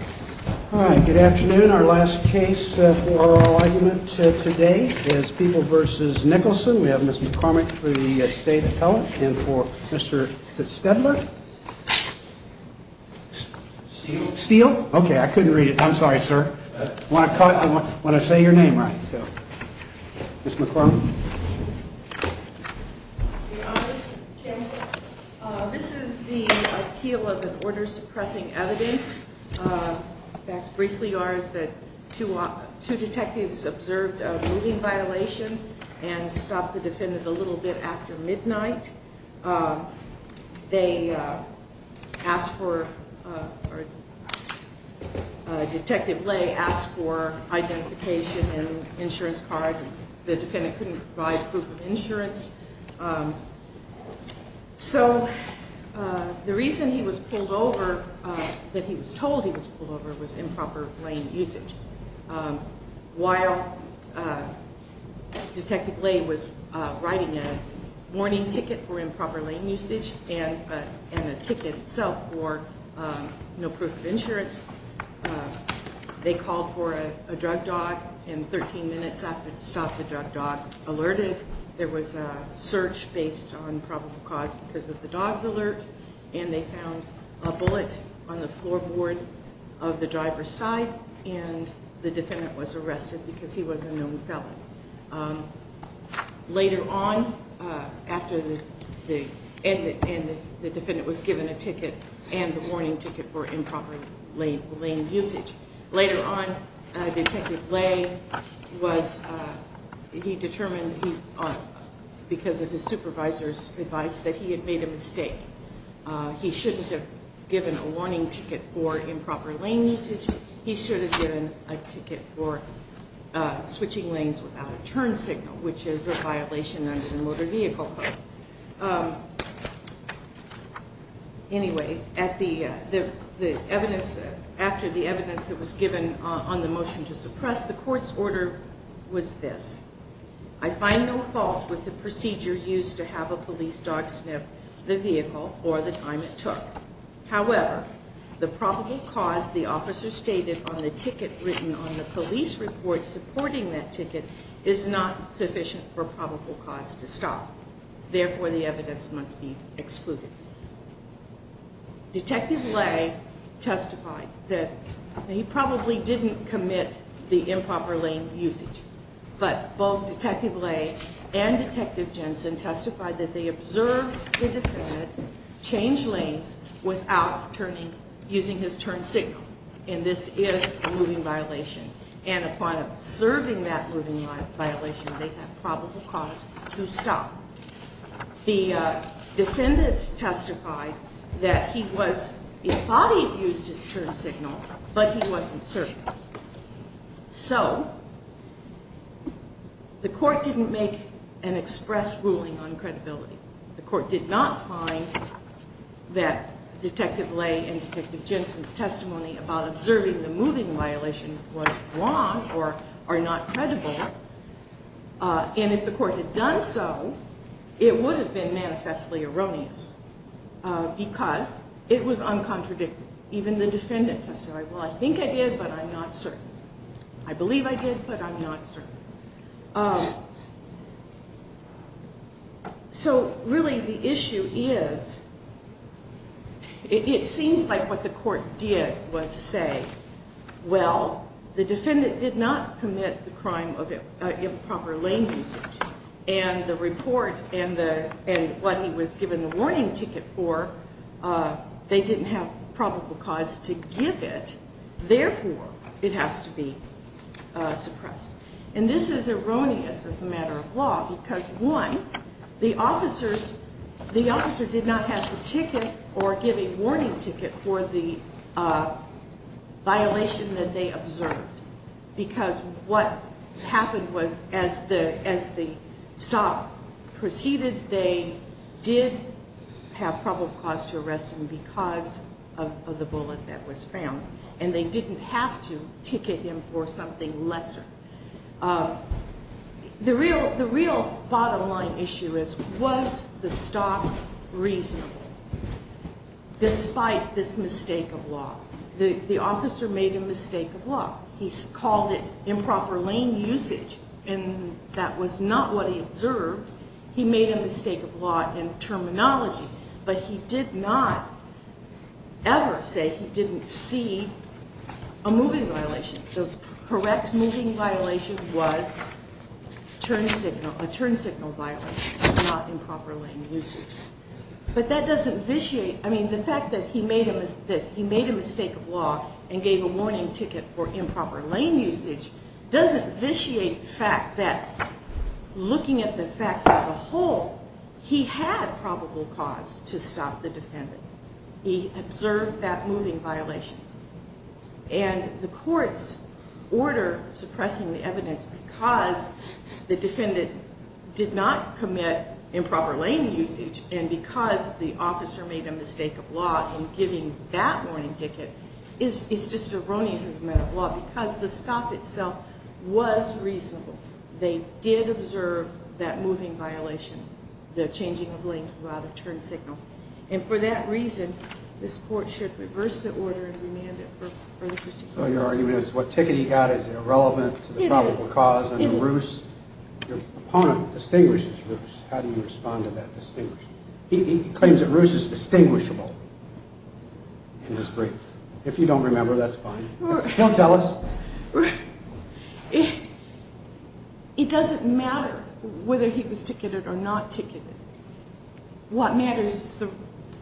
All right, good afternoon. Our last case for our argument today is People v. Nicholson. We have Ms. McCormick for the State Appellate and for Mr. Stedler. Steele? Okay, I couldn't read it. I'm sorry, sir. I want to say your name right. Ms. McCormick. Good afternoon, Mr. Chairman. This is the appeal of an order suppressing evidence that's briefly ours that two detectives observed a moving violation and stopped the defendant a little bit after midnight. They asked for, or Detective Lay asked for identification and insurance card. The defendant couldn't provide proof of insurance. So the reason he was pulled over, that he was told he was pulled over, was improper lane usage. While Detective Lay was writing a warning ticket for improper lane usage and a ticket itself for no proof of insurance, they called for a drug dog, and 13 minutes after they stopped the drug dog, alerted, there was a search based on probable cause because of the dog's alert, and they found a bullet on the floorboard of the driver's side, and the defendant was arrested because he was a known felon. Later on, after the defendant was given a ticket and the warning ticket for improper lane usage, later on, Detective Lay was, he determined because of his supervisor's advice that he had made a mistake. He shouldn't have given a warning ticket for improper lane usage. He should have given a ticket for switching lanes without a turn signal, which is a violation under the Motor Vehicle Code. Anyway, after the evidence that was given on the motion to suppress, the court's order was this. I find no fault with the procedure used to have a police dog sniff the vehicle or the time it took. However, the probable cause the officer stated on the ticket written on the police report supporting that ticket is not sufficient for probable cause to stop. Therefore, the evidence must be excluded. Detective Lay testified that he probably didn't commit the improper lane usage, but both Detective Lay and Detective Jensen testified that they observed the defendant change lanes without using his turn signal, and this is a moving violation, and upon observing that moving violation, they have probable cause to stop. The defendant testified that he was, he thought he had used his turn signal, but he wasn't certain. So, the court didn't make an express ruling on credibility. The court did not find that Detective Lay and Detective Jensen's testimony about observing the moving violation was wrong or are not credible, and if the court had done so, it would have been manifestly erroneous because it was uncontradicted. Even the defendant testified, well, I think I did, but I'm not certain. I believe I did, but I'm not certain. So, really the issue is, it seems like what the court did was say, well, the defendant did not commit the crime of improper lane usage, and the report and what he was given the warning ticket for, they didn't have probable cause to give it. Therefore, it has to be suppressed. And this is erroneous as a matter of law because, one, the officer did not have to ticket or give a warning ticket for the violation that they observed because what happened was, as the stop proceeded, they did have probable cause to arrest him because of the bullet that was found, and they didn't have to ticket him for something lesser. The real bottom line issue is, was the stop reasonable despite this mistake of law? The officer made a mistake of law. He called it improper lane usage, and that was not what he observed. He made a mistake of law and terminology, but he did not ever say he didn't see a moving violation. The correct moving violation was a turn signal violation, not improper lane usage. But that doesn't vitiate, I mean, the fact that he made a mistake of law and gave a warning ticket for improper lane usage doesn't vitiate the fact that looking at the facts as a whole, he had probable cause to stop the defendant. He observed that moving violation. And the court's order suppressing the evidence because the defendant did not commit improper lane usage and because the officer made a mistake of law in giving that warning ticket is just erroneous as a matter of law because the stop itself was reasonable. They did observe that moving violation, the changing of lane throughout a turn signal. And for that reason, this court should reverse the order and remand it for further prosecution. So your argument is what ticket he got is irrelevant to the probable cause? It is. And the ruse, your opponent distinguishes ruse. How do you respond to that distinguishing? He claims that ruse is distinguishable in his brief. If you don't remember, that's fine. He'll tell us. It doesn't matter whether he was ticketed or not ticketed. What matters is the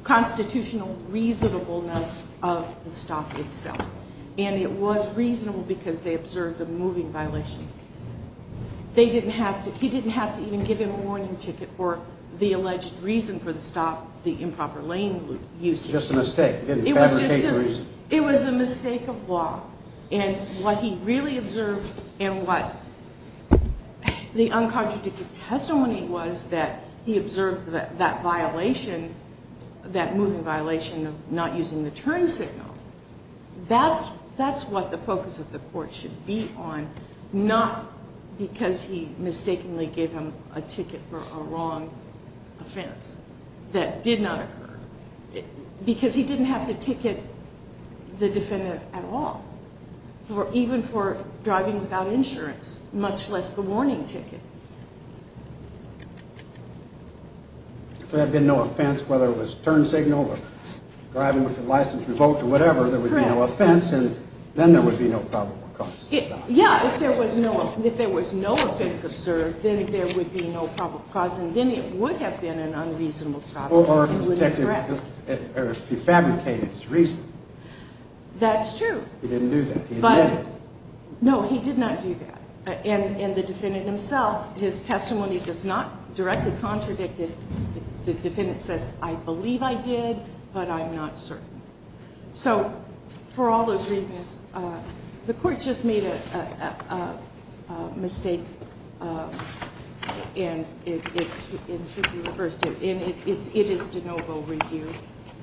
constitutional reasonableness of the stop itself. And it was reasonable because they observed a moving violation. They didn't have to, he didn't have to even give him a warning ticket for the alleged reason for the stop, the improper lane use. Just a mistake. It was a mistake of law. And what he really observed and what the uncontradicted testimony was that he observed that violation, that moving violation of not using the turn signal, that's what the focus of the court should be on, not because he mistakenly gave him a ticket for a wrong offense that did not occur. Because he didn't have to ticket the defendant at all, even for driving without insurance, much less the warning ticket. If there had been no offense, whether it was turn signal or driving with a license revoked or whatever, there would be no offense and then there would be no probable cause to stop. Yeah, if there was no offense observed, then there would be no probable cause and then it would have been an unreasonable stop. Or if he fabricated his reason. That's true. He didn't do that. No, he did not do that. And the defendant himself, his testimony does not directly contradict it. The defendant says, I believe I did, but I'm not certain. So for all those reasons, the court just made a mistake and it should be reversed. It is de novo review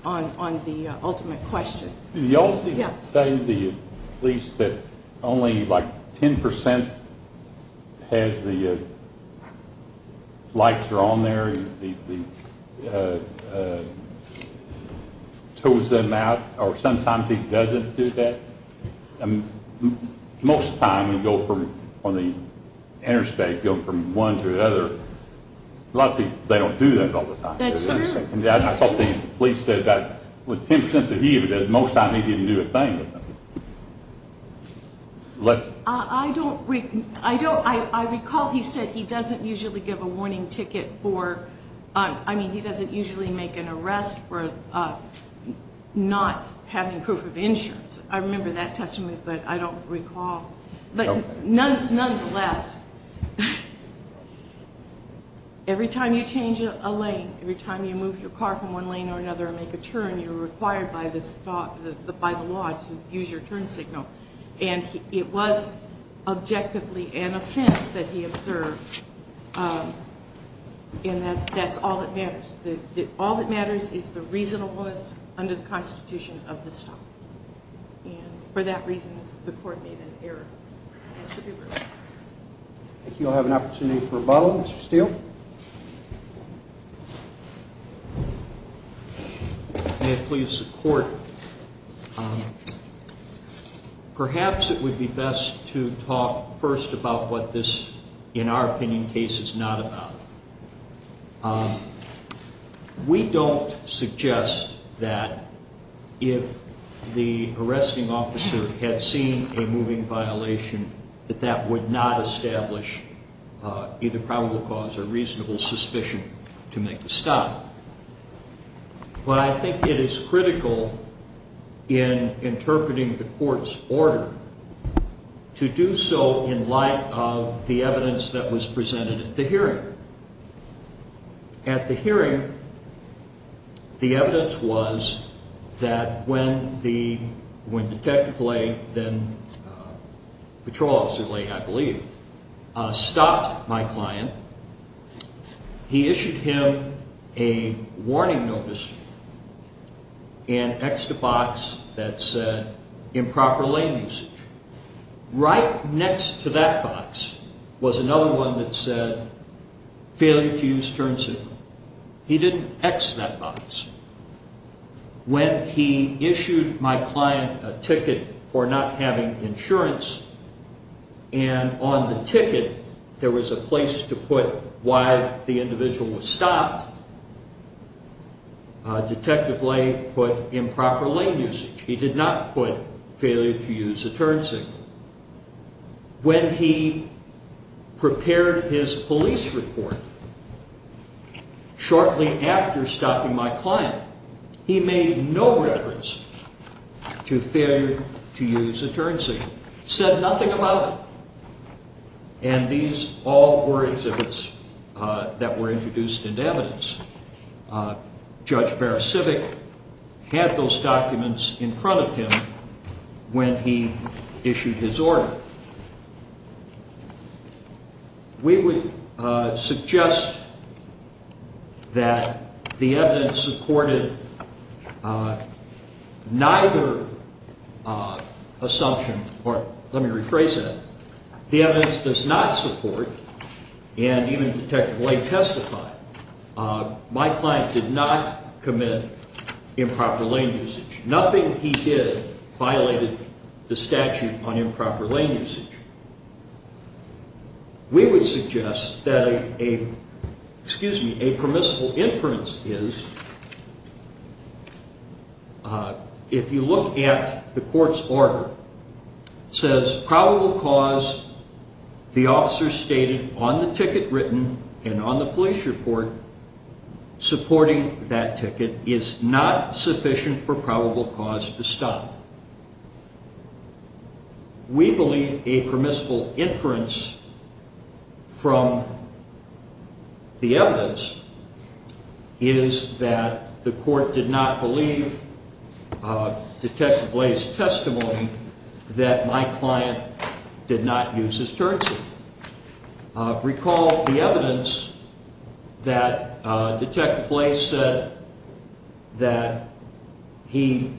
on the ultimate question. Did he also say to the police that only like 10% has the lights are on there, tows them out, or sometimes he doesn't do that? Most of the time we go from, on the interstate, go from one to another. A lot of people, they don't do that all the time. That's true. I saw the police said that with 10% of heat, most of the time he didn't do a thing. I recall he said he doesn't usually give a warning ticket for, I mean he doesn't usually make an arrest for not having proof of insurance. I remember that testimony, but I don't recall. But nonetheless, every time you change a lane, every time you move your car from one lane to another and make a turn, you're required by the law to use your turn signal. And it was objectively an offense that he observed in that that's all that matters. All that matters is the reasonableness under the Constitution of the stop. And for that reason, the court made an error. I think you'll have an opportunity for rebuttal, Mr. Steele. May it please the court. Perhaps it would be best to talk first about what this, in our opinion, case is not about. We don't suggest that if the arresting officer had seen a moving violation, that that would not establish either probable cause or reasonable suspicion to make a stop. But I think it is critical in interpreting the court's order to do so in light of the evidence that was presented at the hearing. At the hearing, the evidence was that when the detective lay, then patrol officer lay, I believe, stopped my client, he issued him a warning notice in extra box that said improper lane usage. Right next to that box was another one that said failure to use turn signal. He didn't X that box. When he issued my client a ticket for not having insurance, and on the ticket there was a place to put why the individual was stopped, detective lay put improper lane usage. He did not put failure to use a turn signal. When he prepared his police report shortly after stopping my client, he made no reference to failure to use a turn signal. Said nothing about it. And these all were exhibits that were introduced into evidence. Judge Barra-Civic had those documents in front of him when he issued his order. We would suggest that the evidence supported neither assumption, or let me rephrase that, the evidence does not support, and even detective lay testified, my client did not commit improper lane usage. Nothing he did violated the statute on improper lane usage. We would suggest that a permissible inference is, if you look at the court's order, says probable cause, the officer stated on the ticket written and on the police report, supporting that ticket is not sufficient for probable cause to stop. We believe a permissible inference from the evidence is that the court did not believe detective lay's testimony that my client did not use his turn signal. Recall the evidence that detective lay said that he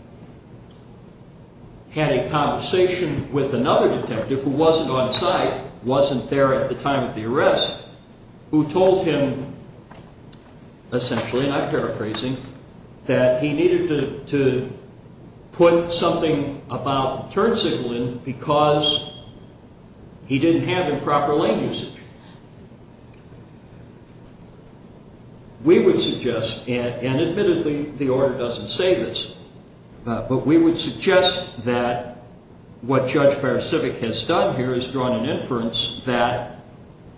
had a conversation with another detective who wasn't on site, wasn't there at the time of the arrest, who told him essentially, and I'm paraphrasing, that he needed to put something about the turn signal in because he didn't have improper lane usage. We would suggest, and admittedly the order doesn't say this, but we would suggest that what Judge Barra-Civic has done here is drawn an inference that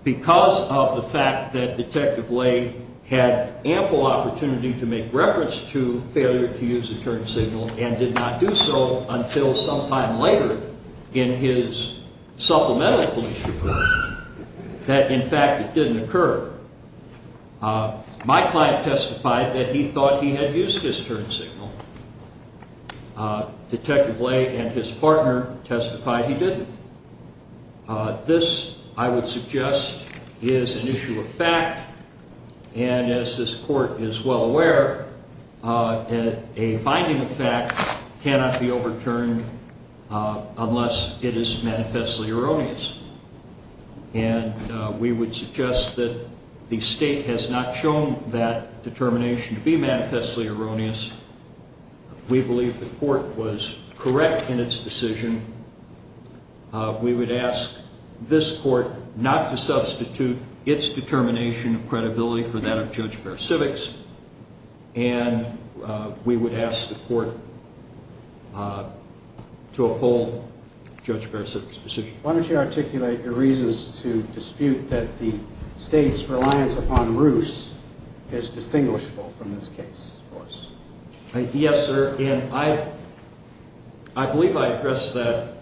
because of the fact that detective lay had ample opportunity to make reference to failure to use a turn signal and did not do so until sometime later in his supplemental police report, that in fact it didn't occur. My client testified that he thought he had used his turn signal. Detective lay and his partner testified he didn't. This, I would suggest, is an issue of fact, and as this court is well aware, a finding of fact cannot be overturned unless it is manifestly erroneous. And we would suggest that the state has not shown that determination to be manifestly erroneous. We believe the court was correct in its decision. We would ask this court not to substitute its determination of credibility for that of Judge Barra-Civic's, and we would ask the court to uphold Judge Barra-Civic's decision. Why don't you articulate your reasons to dispute that the state's reliance upon Roos is distinguishable from this case for us. Yes, sir. And I believe I addressed that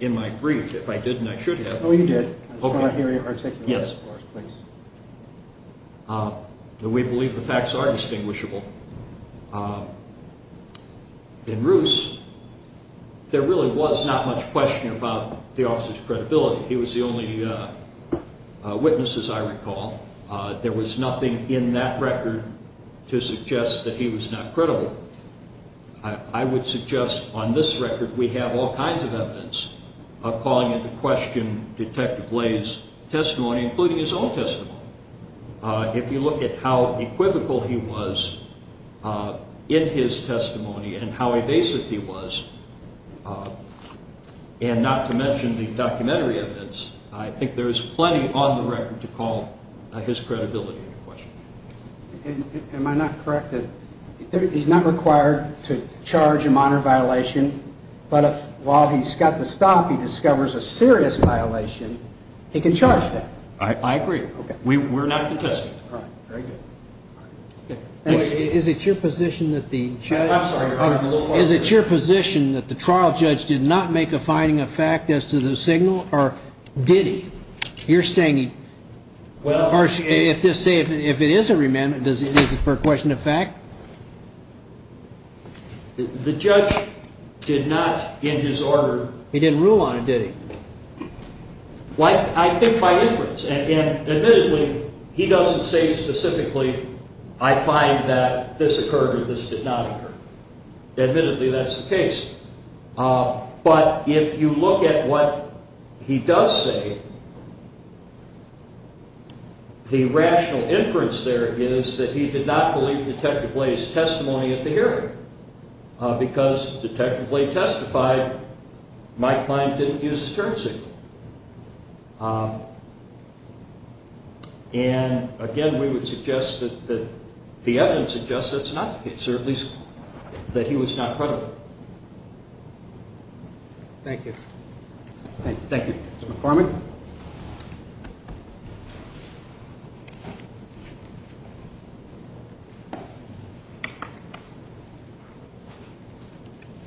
in my brief. If I didn't, I should have. Oh, you did. I just want to hear you articulate this for us, please. We believe the facts are distinguishable. In Roos, there really was not much question about the officer's credibility. He was the only witness, as I recall. There was nothing in that record to suggest that he was not credible. I would suggest on this record we have all kinds of evidence of calling into question Detective Lay's testimony, including his own testimony. If you look at how equivocal he was in his testimony and how evasive he was, and not to mention the documentary evidence, I think there is plenty on the record to call his credibility into question. Am I not correct that he's not required to charge a minor violation, but while he's got the stop, he discovers a serious violation, he can charge that? I agree. We're not contested. Is it your position that the trial judge did not make a finding of fact as to the signal, or did he? You're saying if it is a remand, is it for a question of fact? The judge did not, in his order. He didn't rule on it, did he? I think by inference. Admittedly, he doesn't say specifically, I find that this occurred or this did not occur. Admittedly, that's the case. But if you look at what he does say, the rational inference there is that he did not believe Detective Lay's testimony at the hearing. Because Detective Lay testified my client didn't use his turn signal. And, again, we would suggest that the evidence suggests that's not the case, or at least that he was not credible. Thank you. Thank you. Mr. McCormick.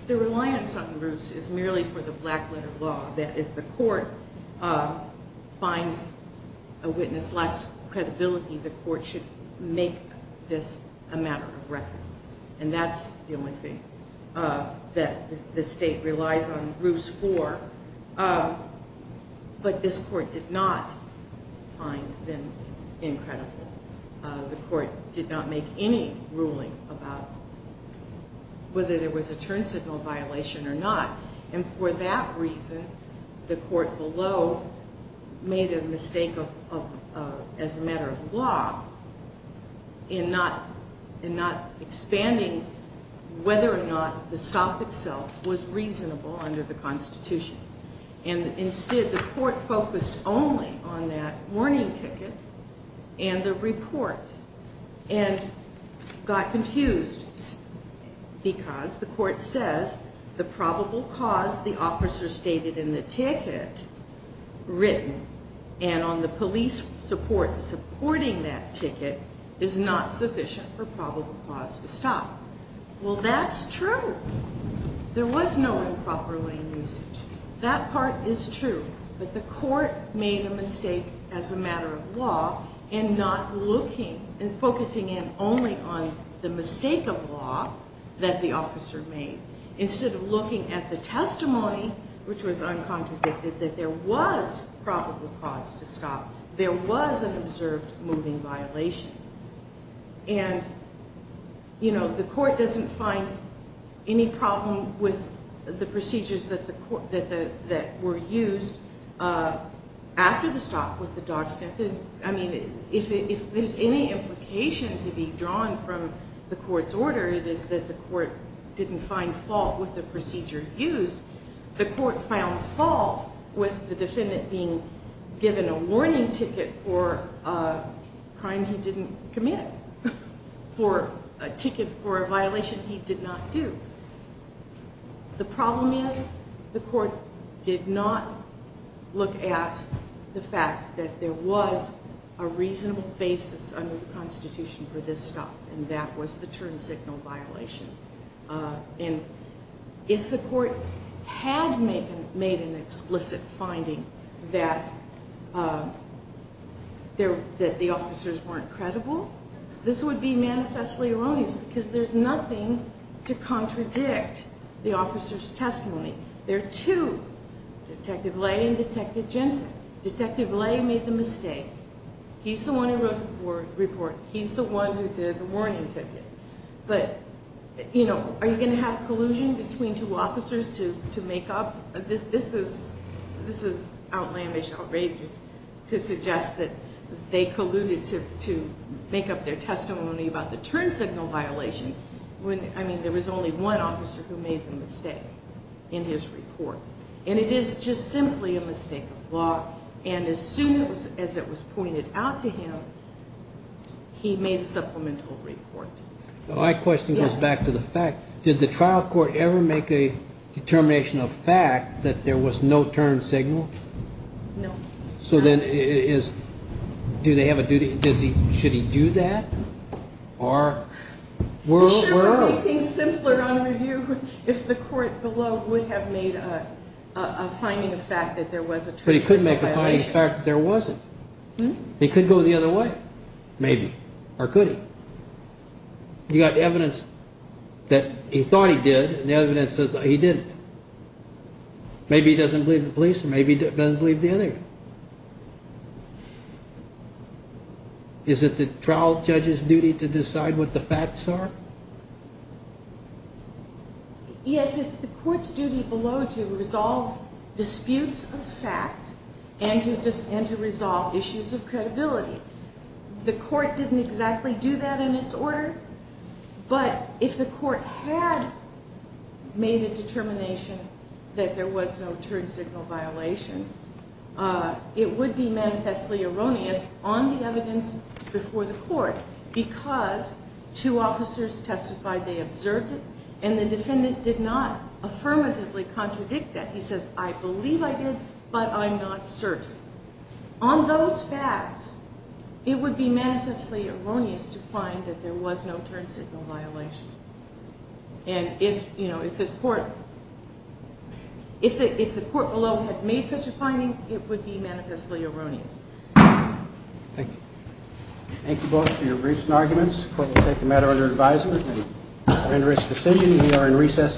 The reliance on Bruce is merely for the black letter law, that if the court finds a witness lacks credibility, the court should make this a matter of record. And that's the only thing that the state relies on Bruce for. But this court did not find them incredible. The court did not make any ruling about whether there was a turn signal violation or not. And for that reason, the court below made a mistake as a matter of law in not expanding whether or not the stop itself was reasonable under the Constitution. And, instead, the court focused only on that warning ticket and the report and got confused because the court says the probable cause the officer stated in the ticket written and on the police support supporting that ticket is not sufficient for probable cause to stop. Well, that's true. There was no improper lane usage. That part is true. But the court made a mistake as a matter of law in not looking and focusing in only on the mistake of law that the officer made instead of looking at the testimony, which was uncontradicted, that there was probable cause to stop. There was an observed moving violation. And, you know, the court doesn't find any problem with the procedures that were used after the stop with the dog stamp. I mean, if there's any implication to be drawn from the court's order, it is that the court didn't find fault with the procedure used. The court found fault with the defendant being given a warning ticket for a crime he didn't commit, for a ticket for a violation he did not do. The problem is the court did not look at the fact that there was a reasonable basis under the Constitution for this stop, and that was the turn signal violation. And if the court had made an explicit finding that the officers weren't credible, this would be manifestly erroneous because there's nothing to contradict the officer's testimony. There are two, Detective Lay and Detective Jensen. Detective Lay made the mistake. He's the one who wrote the report. He's the one who did the warning ticket. But, you know, are you going to have collusion between two officers to make up? This is outlandish, outrageous to suggest that they colluded to make up their testimony about the turn signal violation. I mean, there was only one officer who made the mistake in his report. And it is just simply a mistake of law. And as soon as it was pointed out to him, he made a supplemental report. My question goes back to the fact, did the trial court ever make a determination of fact that there was no turn signal? No. So then it is, do they have a duty? Does he, should he do that? Or? He should have made things simpler on review if the court below would have made a finding of fact that there was a turn signal violation. But he couldn't make a finding of fact that there wasn't. He couldn't go the other way. Maybe. Or could he? You got evidence that he thought he did and evidence that he didn't. Maybe he doesn't believe the police or maybe he doesn't believe the other. Is it the trial judge's duty to decide what the facts are? Yes, it's the court's duty below to resolve disputes of fact and to resolve issues of credibility. The court didn't exactly do that in its order. But if the court had made a determination that there was no turn signal violation, it would be manifestly erroneous on the evidence before the court because two officers testified they observed it and the defendant did not affirmatively contradict that. He says, I believe I did, but I'm not certain. On those facts, it would be manifestly erroneous to find that there was no turn signal violation. And if this court, if the court below had made such a finding, it would be manifestly erroneous. Thank you. Thank you both for your briefs and arguments. The court will take the matter under advisement and render its decision. We are in recess until 7 p.m.